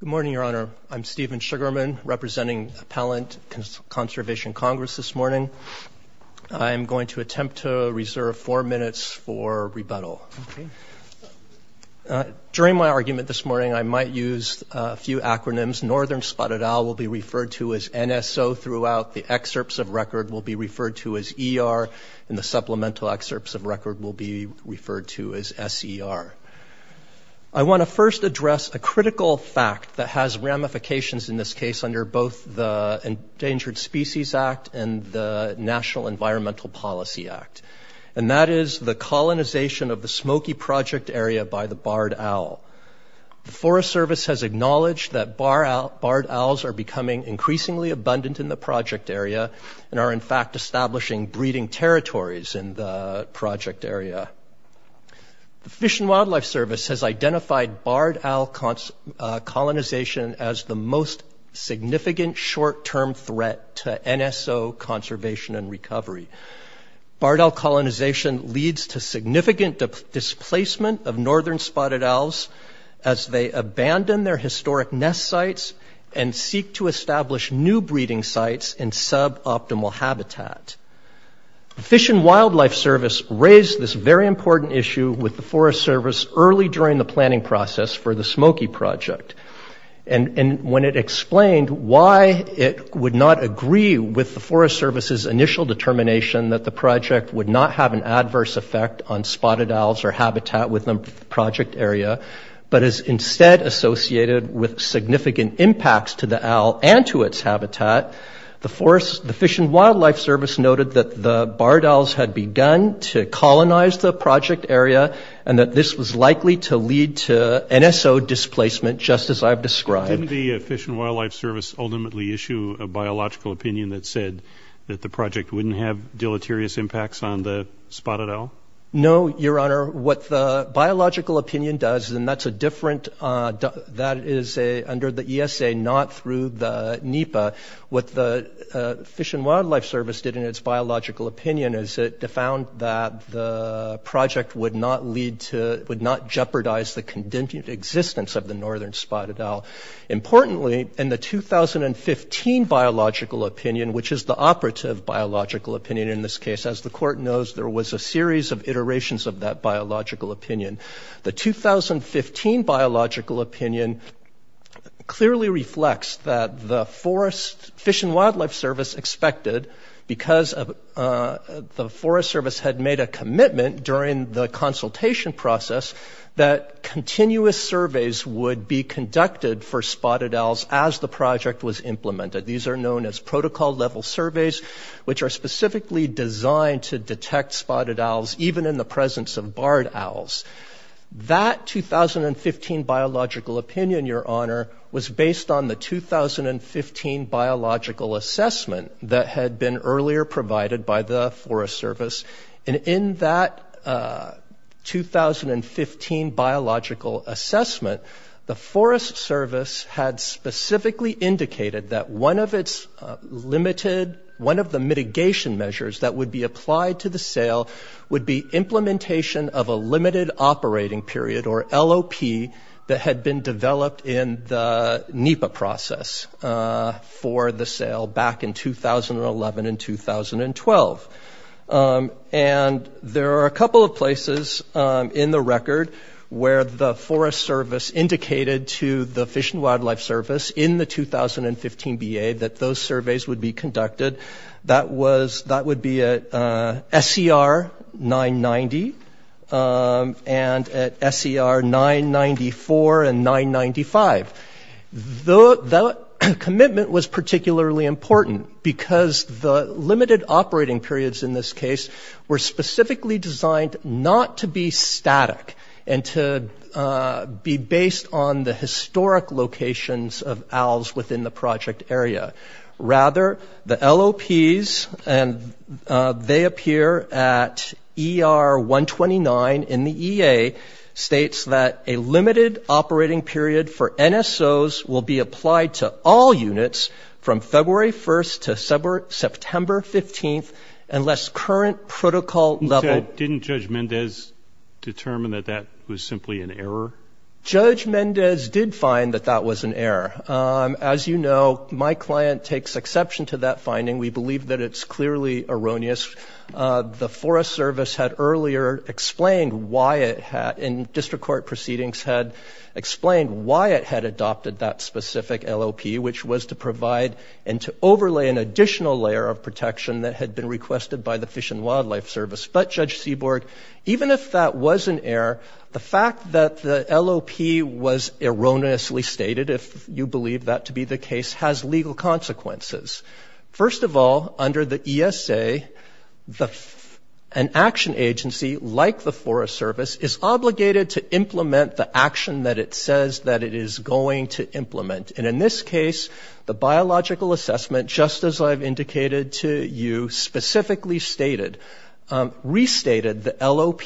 Good morning, Your Honor. I'm Stephen Sugarman, representing Appellant Conservation Congress this morning. I'm going to attempt to reserve four minutes for rebuttal. During my argument this morning I might use a few acronyms. Northern Spotted Owl will be referred to as NSO throughout, the excerpts of record will be referred to as ER, and the supplemental excerpts of record will be referred to as SER. I want to first address a critical fact that has ramifications in this case under both the Endangered Species Act and the National Environmental Policy Act, and that is the colonization of the Smoky Project area by the barred owl. The Forest Service has acknowledged that barred owls are becoming increasingly abundant in the breeding territories in the project area. The Fish and Wildlife Service has identified barred owl colonization as the most significant short-term threat to NSO conservation and recovery. Barred owl colonization leads to significant displacement of northern spotted owls as they abandon their historic nest sites and seek to establish new breeding sites in suboptimal habitat. The Fish and Wildlife Service raised this very important issue with the Forest Service early during the planning process for the Smoky Project. And when it explained why it would not agree with the Forest Service's initial determination that the project would not have an adverse effect on spotted owls or habitat within the project area, but is instead associated with significant impacts to the owl and to its habitat, the Fish and Wildlife Service noted that the barred owls had begun to colonize the project area and that this was likely to lead to NSO displacement, just as I've described. Didn't the Fish and Wildlife Service ultimately issue a biological opinion that said that the project wouldn't have deleterious impacts on the spotted owl? No, Your Honor. What the biological opinion does, and that's a different, that is under the ESA, not through the NEPA, what the Fish and Wildlife Service did in its biological opinion is it found that the project would not lead to, would not jeopardize the continued existence of the northern spotted owl. Importantly, in the 2015 biological opinion, which is the operative biological opinion in this case, as the Court knows, there was a series of clearly reflects that the Forest, Fish and Wildlife Service expected, because the Forest Service had made a commitment during the consultation process that continuous surveys would be conducted for spotted owls as the project was implemented. These are known as protocol-level surveys, which are specifically designed to detect spotted owls, even in the presence of barred owls. The second study, Your Honor, was based on the 2015 biological assessment that had been earlier provided by the Forest Service. And in that 2015 biological assessment, the Forest Service had specifically indicated that one of its limited, one of the mitigation measures that would be applied to the sale would be implementation of a limited operating period, or LOP, that had been developed in the NEPA process for the sale back in 2011 and 2012. And there are a couple of places in the record where the Forest Service indicated to the Fish and Wildlife Service in the 2015 BA that those surveys would be conducted. That was, that would be at SCR 990 and at SCR 994 and 995. The commitment was particularly important because the limited operating periods in this case were specifically designed not to be static and to be based on the historic locations of owls within the project area. Rather, the LOPs, and they appear at ER 129 in the EA, states that a limited operating period for NSOs will be applied to all units from February 1st to September 15th, unless current protocol level... You said, didn't Judge Mendez determine that that was simply an error? Judge Mendez did find that that was an error. As you know, my client takes exception to that finding. We believe that it's clearly erroneous. The Forest Service had earlier explained why it had, in district court proceedings, had explained why it had adopted that specific LOP, which was to provide and to overlay an additional layer of protection that had been requested by the Fish and Wildlife Service. But, Judge Seaborg, even if that was an error, the fact that the LOP was erroneously stated, if you believe that to be the case, has legal consequences. First of all, under the ESA, an action agency like the Forest Service is obligated to implement the action that it says that it is going to implement. And in this case, the biological assessment, just as I've indicated to you, specifically restated the LOP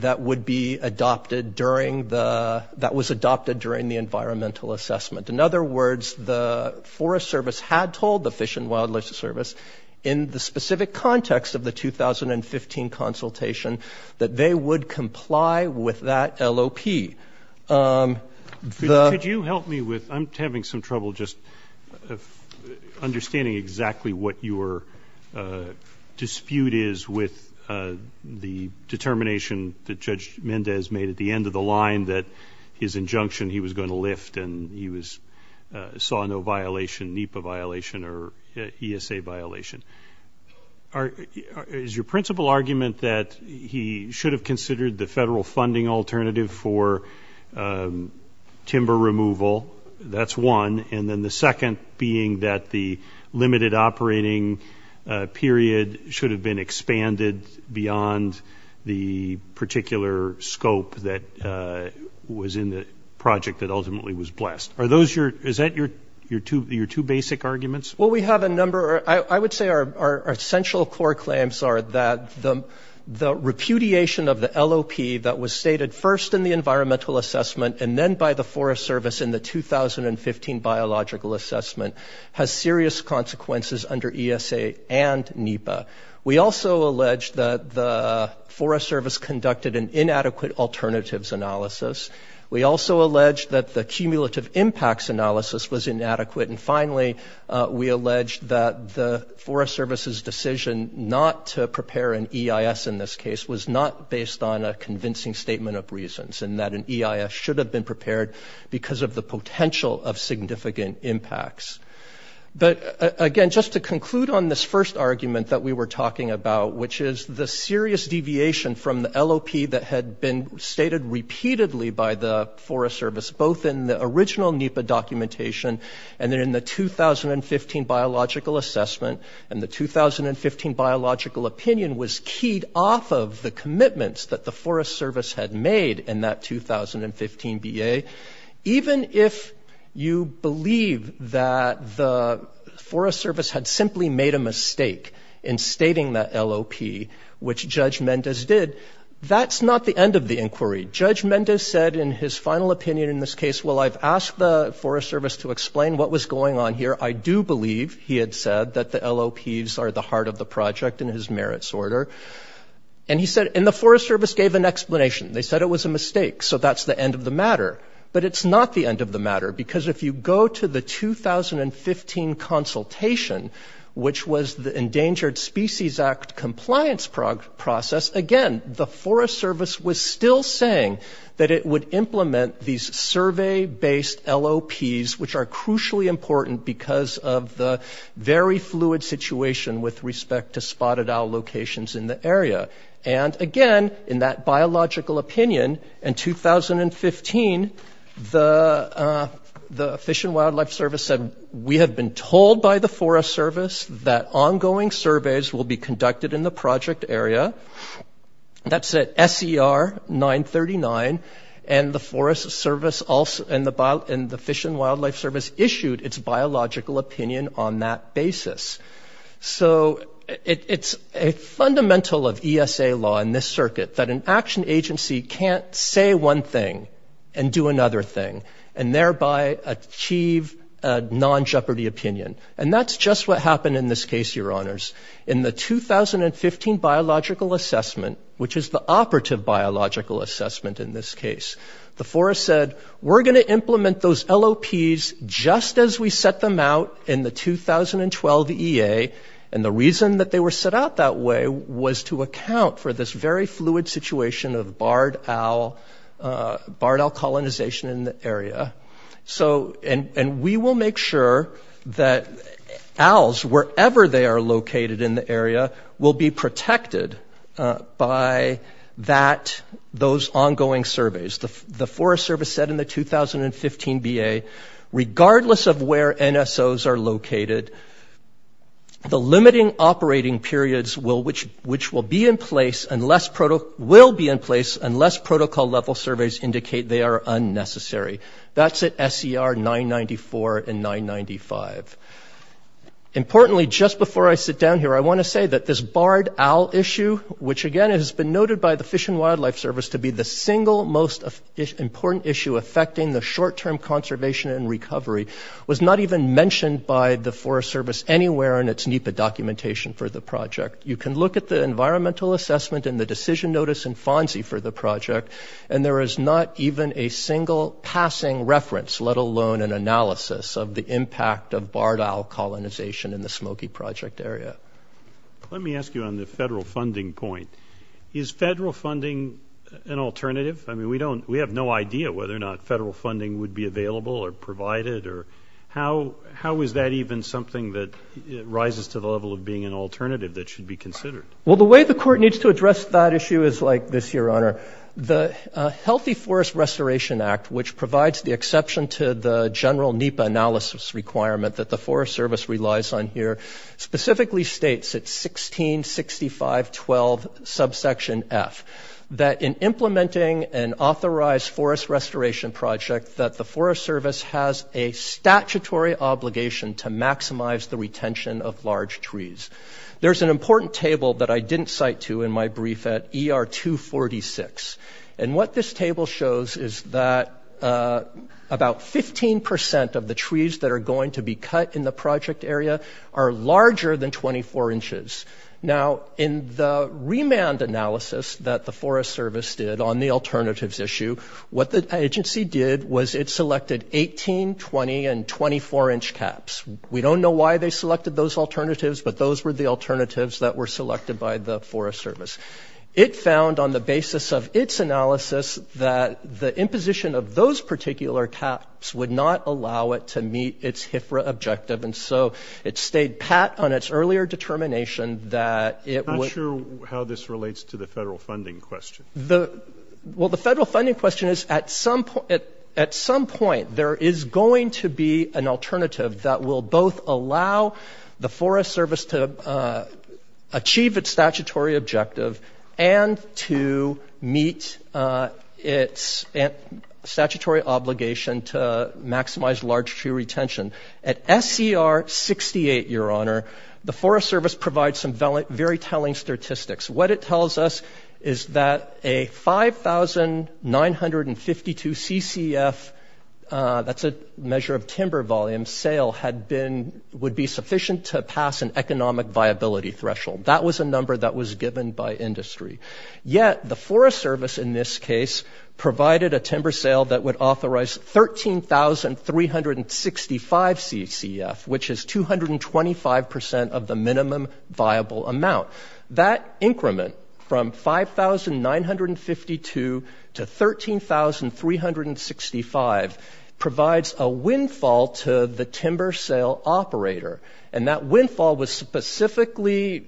that would be adopted during the...that was adopted during the environmental assessment. In other words, the Forest Service had told the Fish and Wildlife Service, in the specific context of the 2015 consultation, that they would comply with that LOP. Could you help me with...I'm having some trouble just understanding exactly what your dispute is with the determination that Judge Mendez made at the end of the line that his injunction he was going to lift and he was...saw no violation, NEPA violation or ESA violation. Is your principal argument that he should have considered the federal funding alternative for timber removal? That's one. And then the second being that the limited operating period should have been expanded beyond the particular scope that was in the project that ultimately was blessed. Are those your...is that your two basic arguments? Well, we have a number...I would say our central core claims are that the repudiation of the LOP that was stated first in the environmental assessment and then by the Forest Service in the 2015 biological assessment has serious consequences under ESA and NEPA. We also allege that the Forest Service conducted an inadequate alternatives analysis. We also allege that the cumulative impacts analysis was inadequate. And finally, we allege that the Forest Service's decision not to prepare an EIS in this case was not based on a convincing statement of reasons and that an EIS should have been prepared because of the potential of significant impacts. But again, just to conclude on this first argument that we were talking about, which is the serious deviation from the LOP that had been stated repeatedly by the Forest Service, both in the original NEPA documentation and then in the 2015 biological assessment. And the 2015 biological opinion was keyed off of the commitments that the Forest Service had made in that 2015 BA. Even if you believe that the Forest Service had simply made a mistake in stating that LOP, which Judge Mendes did, that's not the end of the inquiry. Judge Mendes said in his final opinion in this case, well, I've asked the Forest Service to explain what was going on here. I do believe, he had said, that the LOPs are the heart of the project in his merits order. And he said, and the Forest Service gave an explanation. They said it was a mistake, so that's the end of the matter. But it's not the end of the matter, because if you go to the 2015 consultation, which was the Endangered Species Act compliance process, again, the Forest Service was still saying that it would implement these survey-based LOPs, which are crucially important because of the very fluid situation with respect to spotted owl locations in the area. And again, in that biological opinion, in 2015, the Fish and Wildlife Service said, we have been told by the Forest Service that ongoing surveys will be conducted in the project area. That's at SER 939. And the Forest Service also – and the Fish and Wildlife Service issued its biological opinion on that basis. So it's a fundamental of ESA law in this circuit that an action agency can't say one thing and do another thing and thereby achieve a non-Jeopardy opinion. And that's just what happened in this case, Your Honors. In the 2015 biological assessment, which is the operative biological assessment in this case, the forest said, we're going to implement those LOPs just as we set them out in the 2012 EA. And the reason that they were set out that way was to account for this very fluid situation of barred owl – barred owl colonization in the area. So – and we will make sure that owls, wherever they are located in the area, will be protected by that – those ongoing surveys. The Forest Service said in the 2015 BA, regardless of where NSOs are located, the limiting operating periods will – which will be in place unless – will be in place unless protocol-level surveys indicate they are unnecessary. That's at SER 994 and 995. Importantly, just before I sit down here, I want to say that this barred owl issue, which, again, has been noted by the Fish and Wildlife Service to be the single most important issue affecting the short-term conservation and recovery, was not even mentioned by the Forest Service anywhere in its NEPA documentation for the project. You can look at the environmental assessment and the decision notice in FONSI for the project, and there is not even a single passing reference, let alone an analysis of the impact of barred owl colonization in the Smoky Project area. – Let me ask you on the federal funding point. Is federal funding an alternative? I mean, we don't – we have no idea whether or not federal funding would be available or provided or – how is that even something that rises to the level of being an alternative that should be considered? – Well, the way the court needs to address that issue is like this, Your Honor. The Healthy Forest Restoration Act, which provides the exception to the general NEPA analysis requirement that the Forest Service relies on here, specifically states – it's 1665.12 subsection F – that in implementing an authorized forest restoration project that the Forest Service has a statutory obligation to maximize the retention of large trees. There's an important table that I didn't cite to in my brief at ER 246, and what this table shows is that about 15 percent of the trees that are going to be cut in the project area are larger than 24 inches. Now, in the remand analysis that the Forest Service did on the alternatives issue, what the agency did was it selected 18, 20, and 24-inch caps. We don't know why they selected those alternatives, but those were the alternatives that were selected by the Forest Service. It found, on the basis of its analysis, that the imposition of those particular caps would not allow it to meet its HFRA objective. And so it stayed pat on its earlier determination that it would –– I'm not sure how this relates to the federal funding question. – The – well, the federal funding question is, at some – at some point, there is going to be an alternative that will both allow the Forest Service to achieve its statutory objective and to meet its statutory obligation to maximize large tree retention. At SCR 68, Your Honor, the Forest Service provides some very telling statistics. What it tells us is that a 5,952 ccf – that's a measure of timber volume – sale had been – would be sufficient to pass an economic viability threshold. That was a number that was given by industry. Yet the Forest Service, in this case, provided a timber sale that would authorize 13,365 ccf, which is 225% of the minimum viable amount. That increment from 5,952 to 13,365 provides a windfall to the timber sale operator. And that windfall was specifically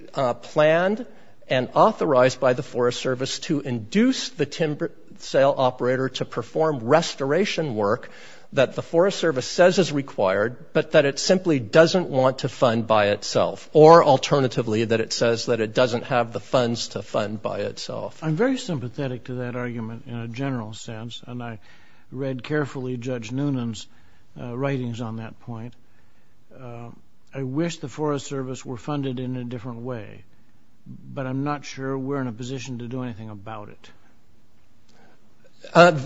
planned and authorized by the Forest Service to induce the timber sale operator to perform restoration work that the Forest Service says is required, but that it simply doesn't want to fund by itself. Or, alternatively, that it says that it doesn't have the funds to fund by itself. I'm very sympathetic to that argument in a general sense, and I read carefully Judge Noonan's writings on that point. I wish the Forest Service were funded in a different way, but I'm not sure we're in a position to do anything about it.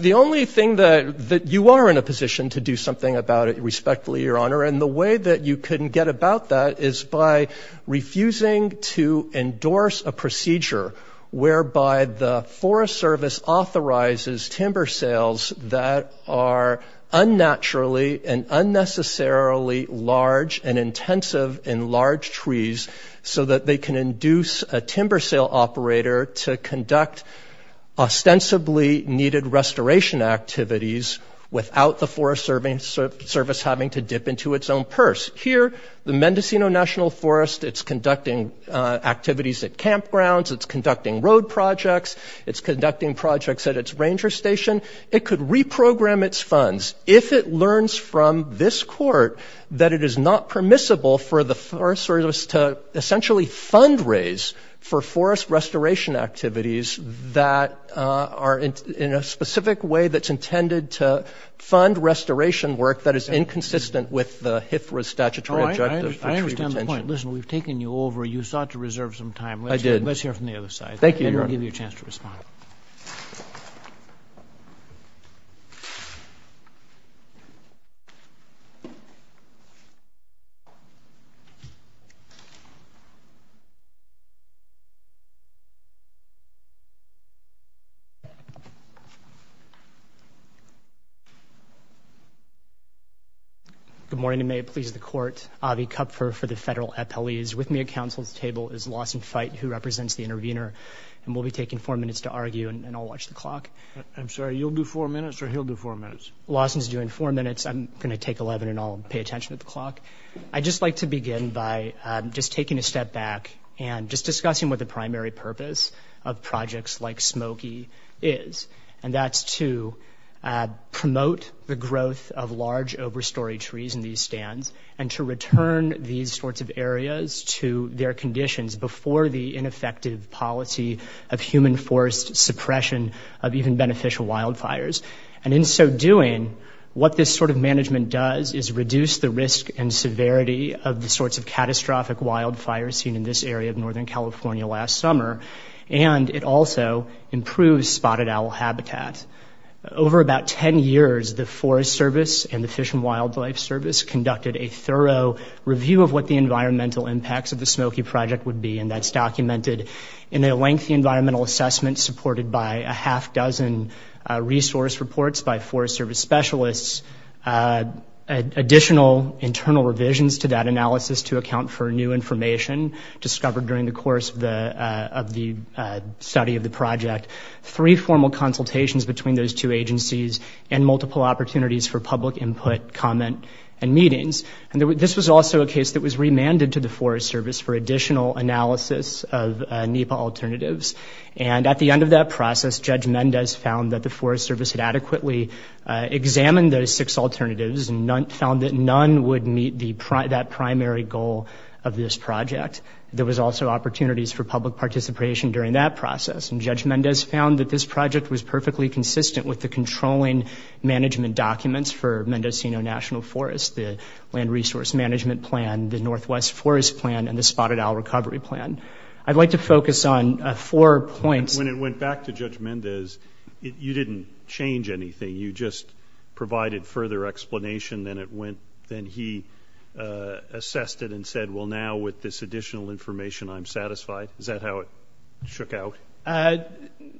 The only thing that – you are in a position to do something about it, respectfully, Your Honor, and the way that you can get about that is by refusing to endorse a procedure whereby the Forest Service authorizes timber sales that are unnaturally and unnecessarily large and intensive in large trees so that they can induce a timber sale operator to conduct ostensibly needed restoration activities without the Forest Service having to dip into its own purse. Here, the Mendocino National Forest, it's conducting activities at campgrounds, it's conducting road projects, it's conducting projects at its ranger station. It could reprogram its funds if it learns from this Court that it is not permissible for the Forest Service to essentially fundraise for forest restoration activities that are in a specific way that's intended to fund restoration work that is inconsistent with the HIFRA statutory objective for tree retention. I understand the point. Listen, we've taken you over. You sought to reserve some time. I did. Let's hear from the other side. And we'll give you a chance to respond. Good morning, and may it please the Court. Avi Kupfer for the Federal Appellees. With me at Council's table is Lawson Fite, who represents the intervener. And we'll be taking four minutes to argue, and I'll watch the clock. I'm sorry, you'll do four minutes or he'll do four minutes? Lawson's doing four minutes. I'm going to take 11, and I'll pay attention to the clock. I'd just like to begin by just taking a step back and just discussing what the primary purpose of projects like Smoky is. And that's to promote the growth of large overstory trees in these stands and to return these sorts of areas to their conditions before the ineffective policy of human forest suppression of even beneficial wildfires. And in so doing, what this sort of management does is reduce the risk and severity of the northern California last summer, and it also improves spotted owl habitat. Over about 10 years, the Forest Service and the Fish and Wildlife Service conducted a thorough review of what the environmental impacts of the Smoky project would be. And that's documented in a lengthy environmental assessment supported by a half dozen resource reports by Forest Service specialists, additional internal revisions to that analysis to account for new information discovered during the course of the study of the project, three formal consultations between those two agencies, and multiple opportunities for public input, comment, and meetings. And this was also a case that was remanded to the Forest Service for additional analysis of NEPA alternatives. And at the end of that process, Judge Mendez found that the Forest Service had adequately examined those six alternatives and found that none would meet that primary goal of this project. There was also opportunities for public participation during that process. And Judge Mendez found that this project was perfectly consistent with the controlling management documents for Mendocino National Forest, the Land Resource Management Plan, the Northwest Forest Plan, and the Spotted Owl Recovery Plan. I'd like to focus on four points. When it went back to Judge Mendez, you didn't change anything. You just provided further explanation than he assessed it and said, well, now with this additional information, I'm satisfied? Is that how it shook out?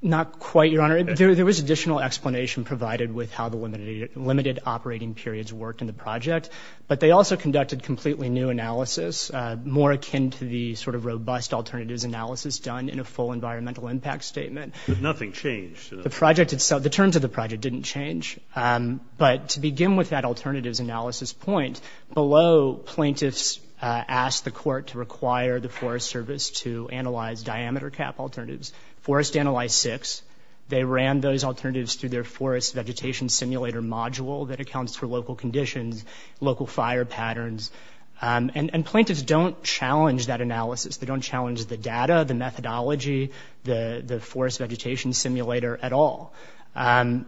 Not quite, Your Honor. There was additional explanation provided with how the limited operating periods worked in the project. But they also conducted completely new analysis, more akin to the sort of robust alternatives analysis done in a full environmental impact statement. But nothing changed? The project itself, the terms of the project didn't change. But to begin with that alternatives analysis point, below, plaintiffs asked the court to require the Forest Service to analyze diameter cap alternatives. Forest analyzed six. They ran those alternatives through their forest vegetation simulator module that accounts for local conditions, local fire patterns. And plaintiffs don't challenge that analysis. They don't challenge the data, the methodology, the forest vegetation simulator at all. And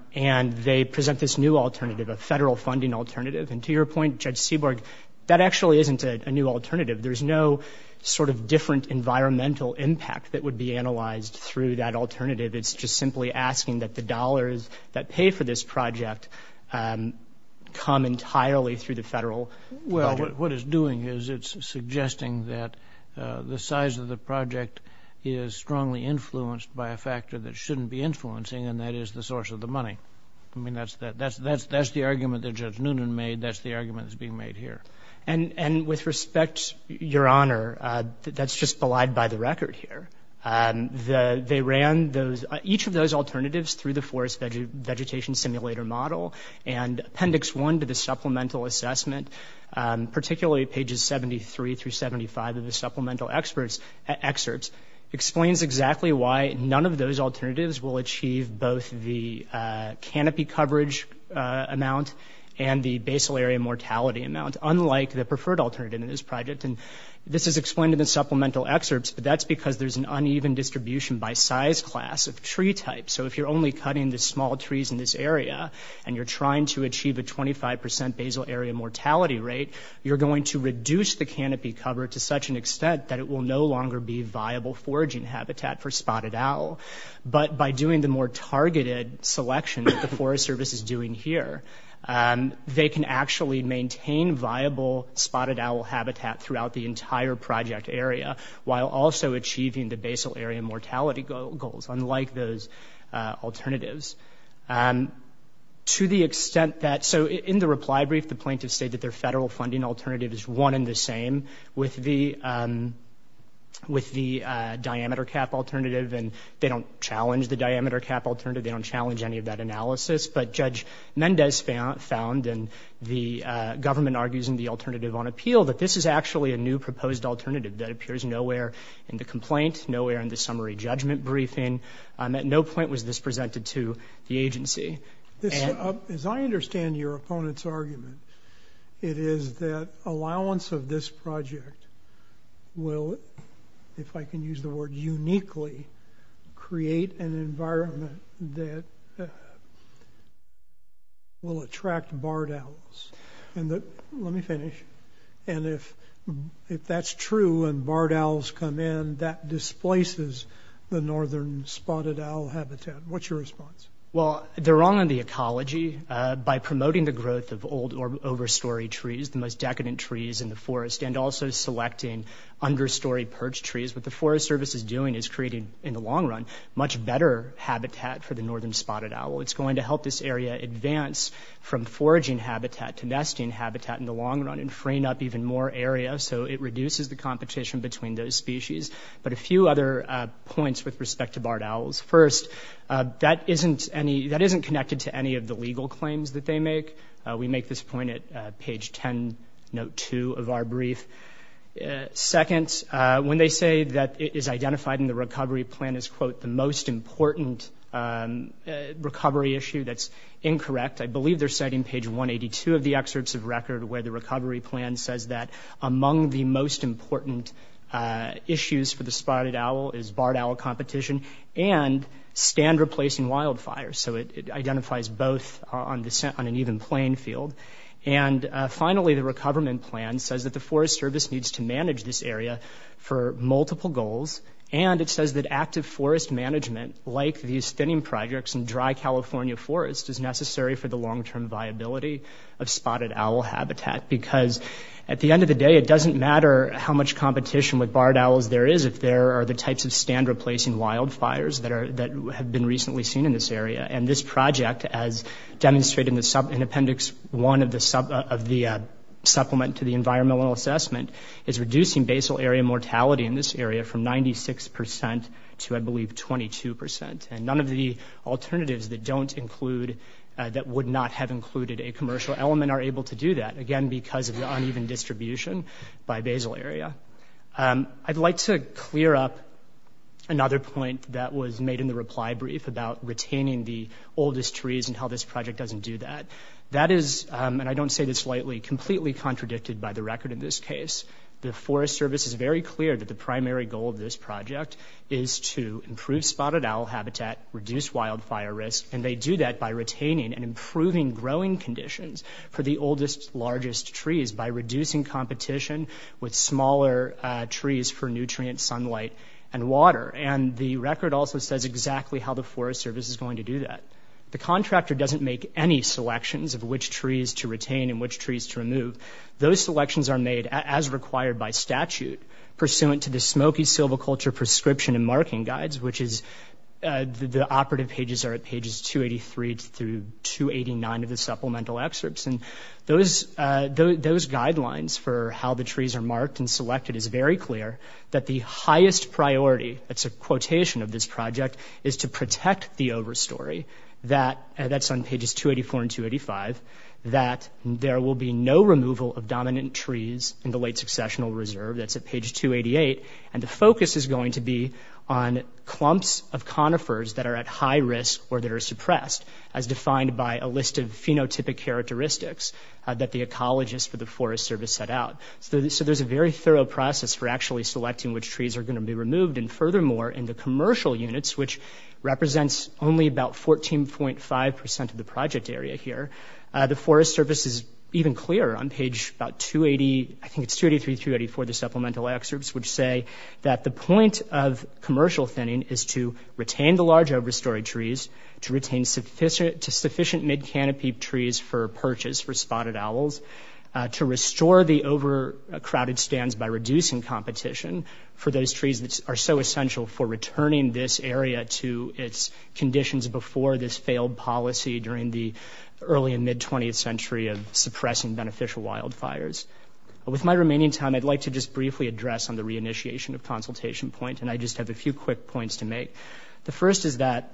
they present this new alternative, a federal funding alternative. And to your point, Judge Seaborg, that actually isn't a new alternative. There's no sort of different environmental impact that would be analyzed through that alternative. It's just simply asking that the dollars that pay for this project come entirely through the federal budget. What it's doing is it's suggesting that the size of the project is strongly influenced by a factor that shouldn't be influencing, and that is the source of the money. I mean, that's the argument that Judge Noonan made. That's the argument that's being made here. And with respect, Your Honor, that's just belied by the record here. They ran each of those alternatives through the forest vegetation simulator model. And Appendix 1 to the Supplemental Assessment, particularly pages 73 through 75 of the Supplemental Excerpts, explains exactly why none of those alternatives will achieve both the canopy coverage amount and the basal area mortality amount, unlike the preferred alternative in this project. And this is explained in the Supplemental Excerpts, but that's because there's an uneven distribution by size class of tree type. So if you're only cutting the small trees in this area and you're trying to achieve a 25 percent basal area mortality rate, you're going to reduce the canopy cover to such an extent that it will no longer be viable foraging habitat for spotted owl. But by doing the more targeted selection that the Forest Service is doing here, they can actually maintain viable spotted owl habitat throughout the entire project area while also achieving the basal area mortality goals. Unlike those alternatives. To the extent that, so in the reply brief, the plaintiffs state that their federal funding alternative is one and the same with the diameter cap alternative. And they don't challenge the diameter cap alternative. They don't challenge any of that analysis. But Judge Mendez found, and the government argues in the alternative on appeal, that this is actually a new proposed alternative that appears nowhere in the complaint, nowhere in the summary judgment briefing. At no point was this presented to the agency. As I understand your opponent's argument, it is that allowance of this project will, if I can use the word uniquely, create an environment that will attract barred owls. And let me finish. And if that's true, and barred owls come in, that displaces the northern spotted owl habitat. What's your response? Well, they're wrong on the ecology. By promoting the growth of old overstory trees, the most decadent trees in the forest, and also selecting understory perch trees, what the Forest Service is doing is creating, in the long run, much better habitat for the northern spotted owl. It's going to help this area advance from foraging habitat to nesting habitat in the spring up even more area. So it reduces the competition between those species. But a few other points with respect to barred owls. First, that isn't connected to any of the legal claims that they make. We make this point at page 10, note 2 of our brief. Second, when they say that it is identified in the recovery plan as, quote, the most important recovery issue, that's incorrect. I believe they're citing page 182 of the excerpts of record where the recovery plan says that among the most important issues for the spotted owl is barred owl competition and stand-replacing wildfires. So it identifies both on an even playing field. And finally, the recovery plan says that the Forest Service needs to manage this area for multiple goals. And it says that active forest management, like these thinning projects in dry California forests, is necessary for the long-term viability of spotted owl habitat. Because at the end of the day, it doesn't matter how much competition with barred owls there is if there are the types of stand-replacing wildfires that have been recently seen in this area. And this project, as demonstrated in Appendix 1 of the Supplement to the Environmental Assessment, is reducing basal area mortality in this area from 96% to, I believe, 22%. And none of the alternatives that don't include – that would not have included a commercial element are able to do that, again, because of the uneven distribution by basal area. I'd like to clear up another point that was made in the reply brief about retaining the oldest trees and how this project doesn't do that. That is – and I don't say this lightly – completely contradicted by the record in this case. The Forest Service is very clear that the primary goal of this project is to improve spotted owl habitat, reduce wildfire risk. And they do that by retaining and improving growing conditions for the oldest, largest trees by reducing competition with smaller trees for nutrients, sunlight, and water. And the record also says exactly how the Forest Service is going to do that. The contractor doesn't make any selections of which trees to retain and which trees to remove. Those selections are made, as required by statute, pursuant to the Smoky Silviculture Prescription and Marking Guides, which is – the operative pages are at pages 283 through 289 of the supplemental excerpts. And those guidelines for how the trees are marked and selected is very clear that the highest priority – that's a quotation of this project – is to protect the overstory that – that's on pages 284 and 285 – that there will be no removal of dominant trees in the late successional reserve. That's at page 288. And the focus is going to be on clumps of conifers that are at high risk or that are suppressed, as defined by a list of phenotypic characteristics that the ecologists for the Forest Service set out. So there's a very thorough process for actually selecting which trees are going to be removed. And furthermore, in the commercial units, which represents only about 14.5 percent of the project area here, the Forest Service is even clearer on page about 280 – I think it's 283 through 284 of the supplemental excerpts – which say that the point of commercial thinning is to retain the large overstory trees, to retain sufficient – to sufficient mid-canopy trees for purchase for spotted owls, to restore the overcrowded stands by reducing competition for those trees that are so essential for returning this area to its conditions before this failed policy during the early and mid-20th century of suppressing beneficial wildfires. With my remaining time, I'd like to just briefly address on the re-initiation of consultation point, and I just have a few quick points to make. The first is that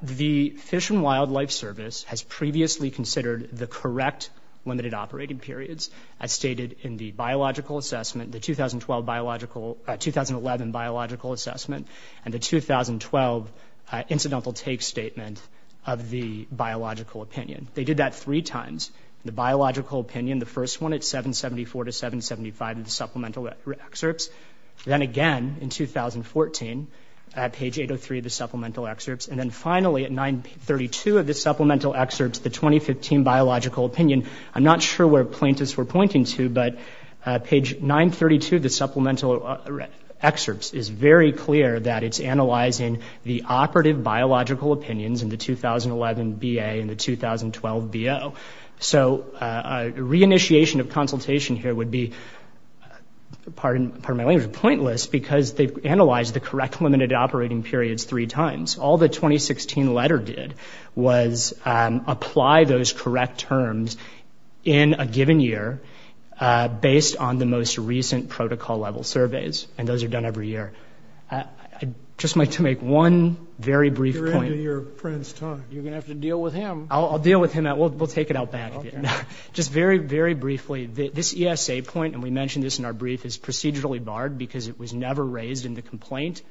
the Fish and Wildlife Service has previously considered the correct limited operating periods as stated in the biological assessment, the 2012 biological – 2011 biological assessment and the 2012 incidental take statement of the biological opinion. They did that three times. The biological opinion, the first one at 774 to 775 of the supplemental excerpts, then again in 2014 at page 803 of the supplemental excerpts, and then finally at 932 of the supplemental excerpts, the 2015 biological opinion. I'm not sure where plaintiffs were pointing to, but page 932 of the supplemental excerpts is very clear that it's analyzing the operative biological opinions in the 2011 BA and the So a re-initiation of consultation here would be – pardon my language – pointless because they've analyzed the correct limited operating periods three times. All the 2016 letter did was apply those correct terms in a given year based on the most recent protocol-level surveys, and those are done every year. I'd just like to make one very brief point. You're ending your friend's time. You're going to have to deal with him. I'll deal with him. We'll take it out back. Just very, very briefly, this ESA point, and we mentioned this in our brief, is procedurally barred because it was never raised in the complaint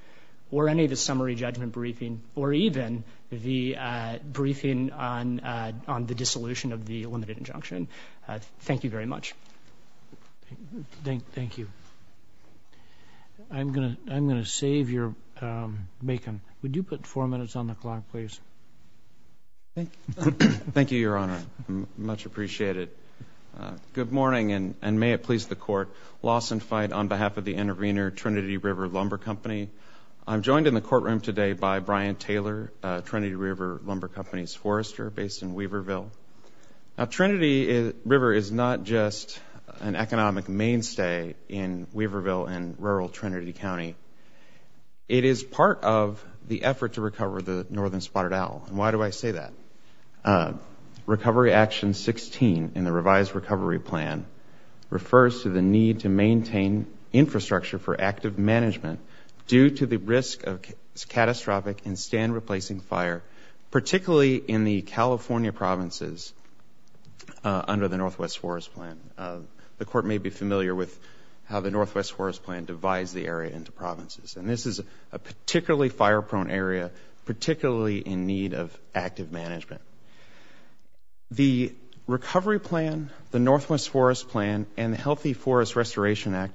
or any of the summary judgment briefing or even the briefing on the dissolution of the limited injunction. Thank you very much. Thank you. I'm going to save your – Macon, would you put four minutes on the clock, please? Thank you, Your Honor. I much appreciate it. Good morning, and may it please the Court, Lawson Fyde on behalf of the intervener, Trinity River Lumber Company. I'm joined in the courtroom today by Brian Taylor, Trinity River Lumber Company's forester based in Weaverville. Now, Trinity River is not just an economic mainstay in Weaverville and rural Trinity County. It is part of the effort to recover the Northern Spotted Owl. And why do I say that? Recovery Action 16 in the revised recovery plan refers to the need to maintain infrastructure for active management due to the risk of catastrophic and stand-replacing fire, particularly in the California provinces under the Northwest Forest Plan. The Court may be familiar with how the Northwest Forest Plan divides the area into provinces. And this is a particularly fire-prone area, particularly in need of active management. The recovery plan, the Northwest Forest Plan, and the Healthy Forest Restoration Act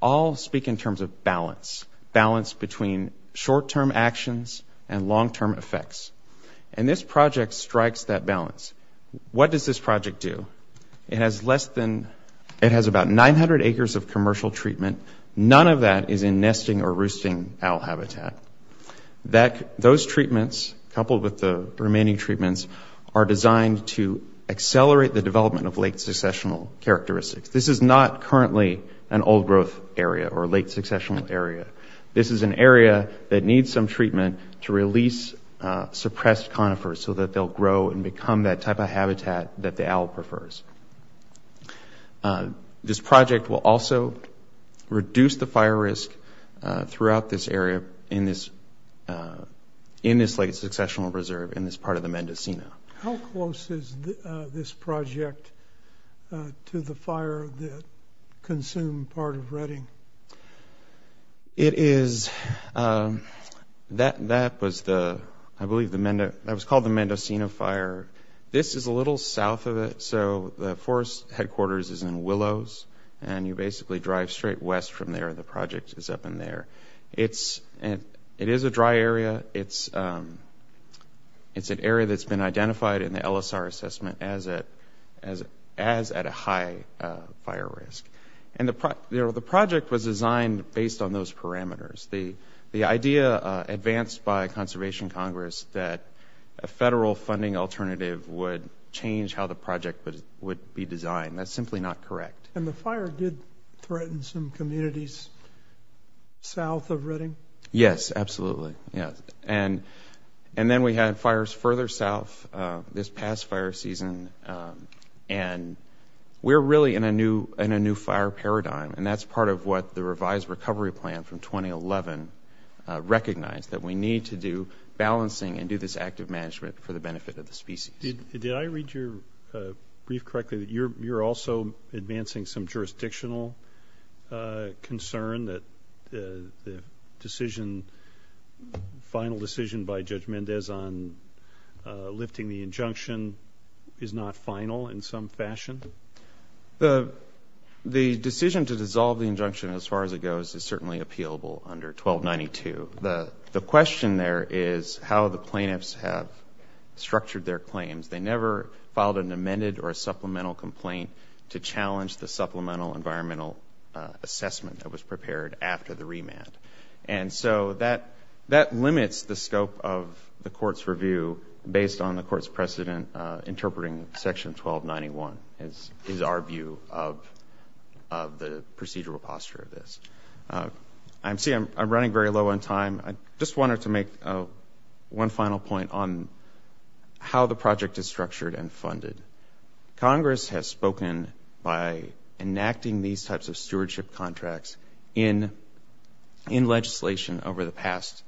all speak in terms of balance, balance between short-term actions and long-term effects. And this project strikes that balance. What does this project do? It has less than, it has about 900 acres of commercial treatment. None of that is in nesting or roosting owl habitat. Those treatments, coupled with the remaining treatments, are designed to accelerate the development of late successional characteristics. This is not currently an old growth area or late successional area. This is an area that needs some treatment to release suppressed conifers so that they'll grow and become that type of habitat that the owl prefers. This project will also reduce the fire risk throughout this area in this late successional reserve, in this part of the Mendocino. How close is this project to the fire that consumed part of Redding? It is, that was the, I believe the, that was called the Mendocino Fire. This is a little south of it, so the forest headquarters is in Willows, and you basically drive straight west from there. The project is up in there. It is a dry area. It's an area that's been identified in the LSR assessment as at a high fire risk. And the project was designed based on those parameters. The idea advanced by Conservation Congress that a federal funding alternative would change how the project would be designed. That's simply not correct. And the fire did threaten some communities south of Redding? Yes, absolutely. And then we had fires further south this past fire season, and we're really in a new fire paradigm, and that's part of what the revised recovery plan from 2011 recognized, that we need to do balancing and do this active management for the benefit of the species. Did I read your brief correctly that you're also advancing some jurisdictional concern that the decision, final decision by Judge Mendez on lifting the injunction is not final in some fashion? The decision to dissolve the injunction as far as it goes is certainly appealable under 1292. The question there is how the plaintiffs have structured their claims. They never filed an amended or a supplemental complaint to challenge the supplemental environmental assessment that was prepared after the remand. And so that limits the scope of the court's review based on the court's precedent interpreting section 1291 is our view of the procedural posture of this. See, I'm running very low on time. I just wanted to make one final point on how the project is structured and funded. Congress has spoken by enacting these types of stewardship contracts in legislation over the past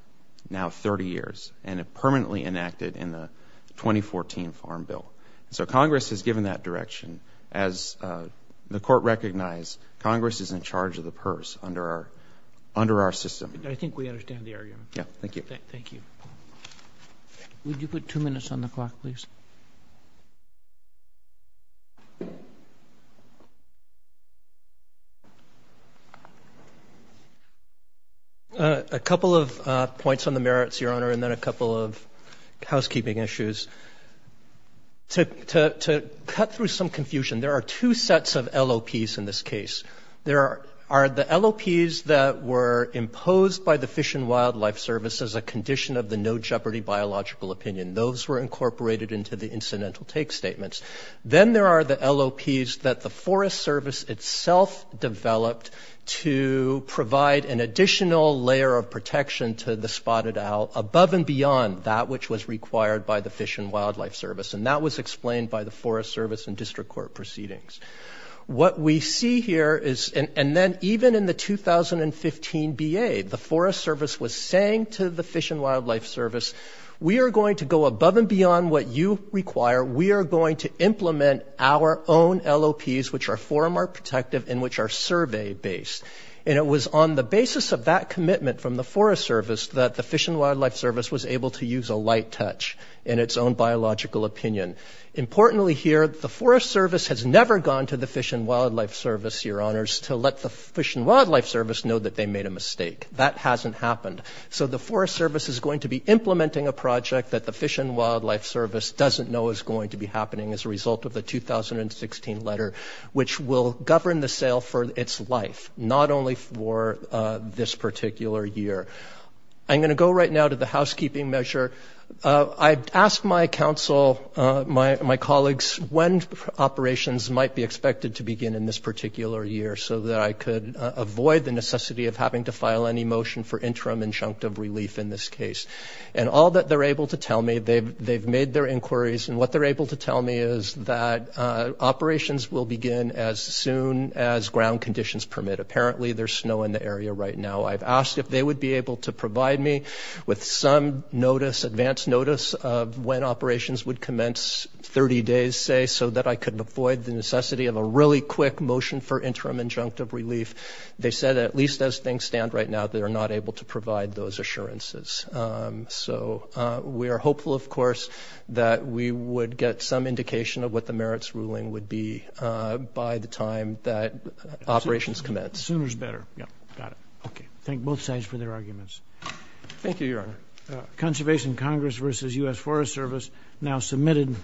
now 30 years, and it permanently enacted in the 2014 Farm Bill. So Congress has given that direction. As the court recognized, Congress is in charge of the purse under our system. I think we understand the argument. Yeah. Thank you. Thank you. Would you put two minutes on the clock, please? A couple of points on the merits, Your Honor, and then a couple of housekeeping issues. To cut through some confusion, there are two sets of LOPs in this case. There are the LOPs that were imposed by the Fish and Wildlife Service as a condition of the no jeopardy biological opinion. Those were incorporated into the incidental take statements. Then there are the LOPs that the Forest Service itself developed to provide an additional layer of protection to the spotted owl above and beyond that which was required by the Fish and Wildlife Service. And that was explained by the Forest Service and district court proceedings. What we see here is, and then even in the 2015 B.A., the Forest Service was saying to the Fish and Wildlife Service, we are going to go above and beyond what you require. We are going to implement our own LOPs, which are far more protective and which are survey based. And it was on the basis of that commitment from the Forest Service that the Fish and Importantly here, the Forest Service has never gone to the Fish and Wildlife Service, Your Honors, to let the Fish and Wildlife Service know that they made a mistake. That hasn't happened. So the Forest Service is going to be implementing a project that the Fish and Wildlife Service doesn't know is going to be happening as a result of the 2016 letter, which will govern the sale for its life, not only for this particular year. I'm going to go right now to the housekeeping measure. I asked my counsel, my colleagues, when operations might be expected to begin in this particular year so that I could avoid the necessity of having to file any motion for interim injunctive relief in this case. And all that they're able to tell me, they've made their inquiries, and what they're able to tell me is that operations will begin as soon as ground conditions permit. Apparently, there's snow in the area right now. I've asked if they would be able to provide me with some notice – advance notice of when operations would commence – 30 days, say – so that I could avoid the necessity of a really quick motion for interim injunctive relief. They said at least as things stand right now, they're not able to provide those assurances. So we are hopeful, of course, that we would get some indication of what the merits ruling would be by the time that operations commence. Sooner's better. Yep. Got it. Okay. Thank both sides for their arguments. Thank you, Your Honor. Conservation Congress versus U.S. Forest Service now submitted.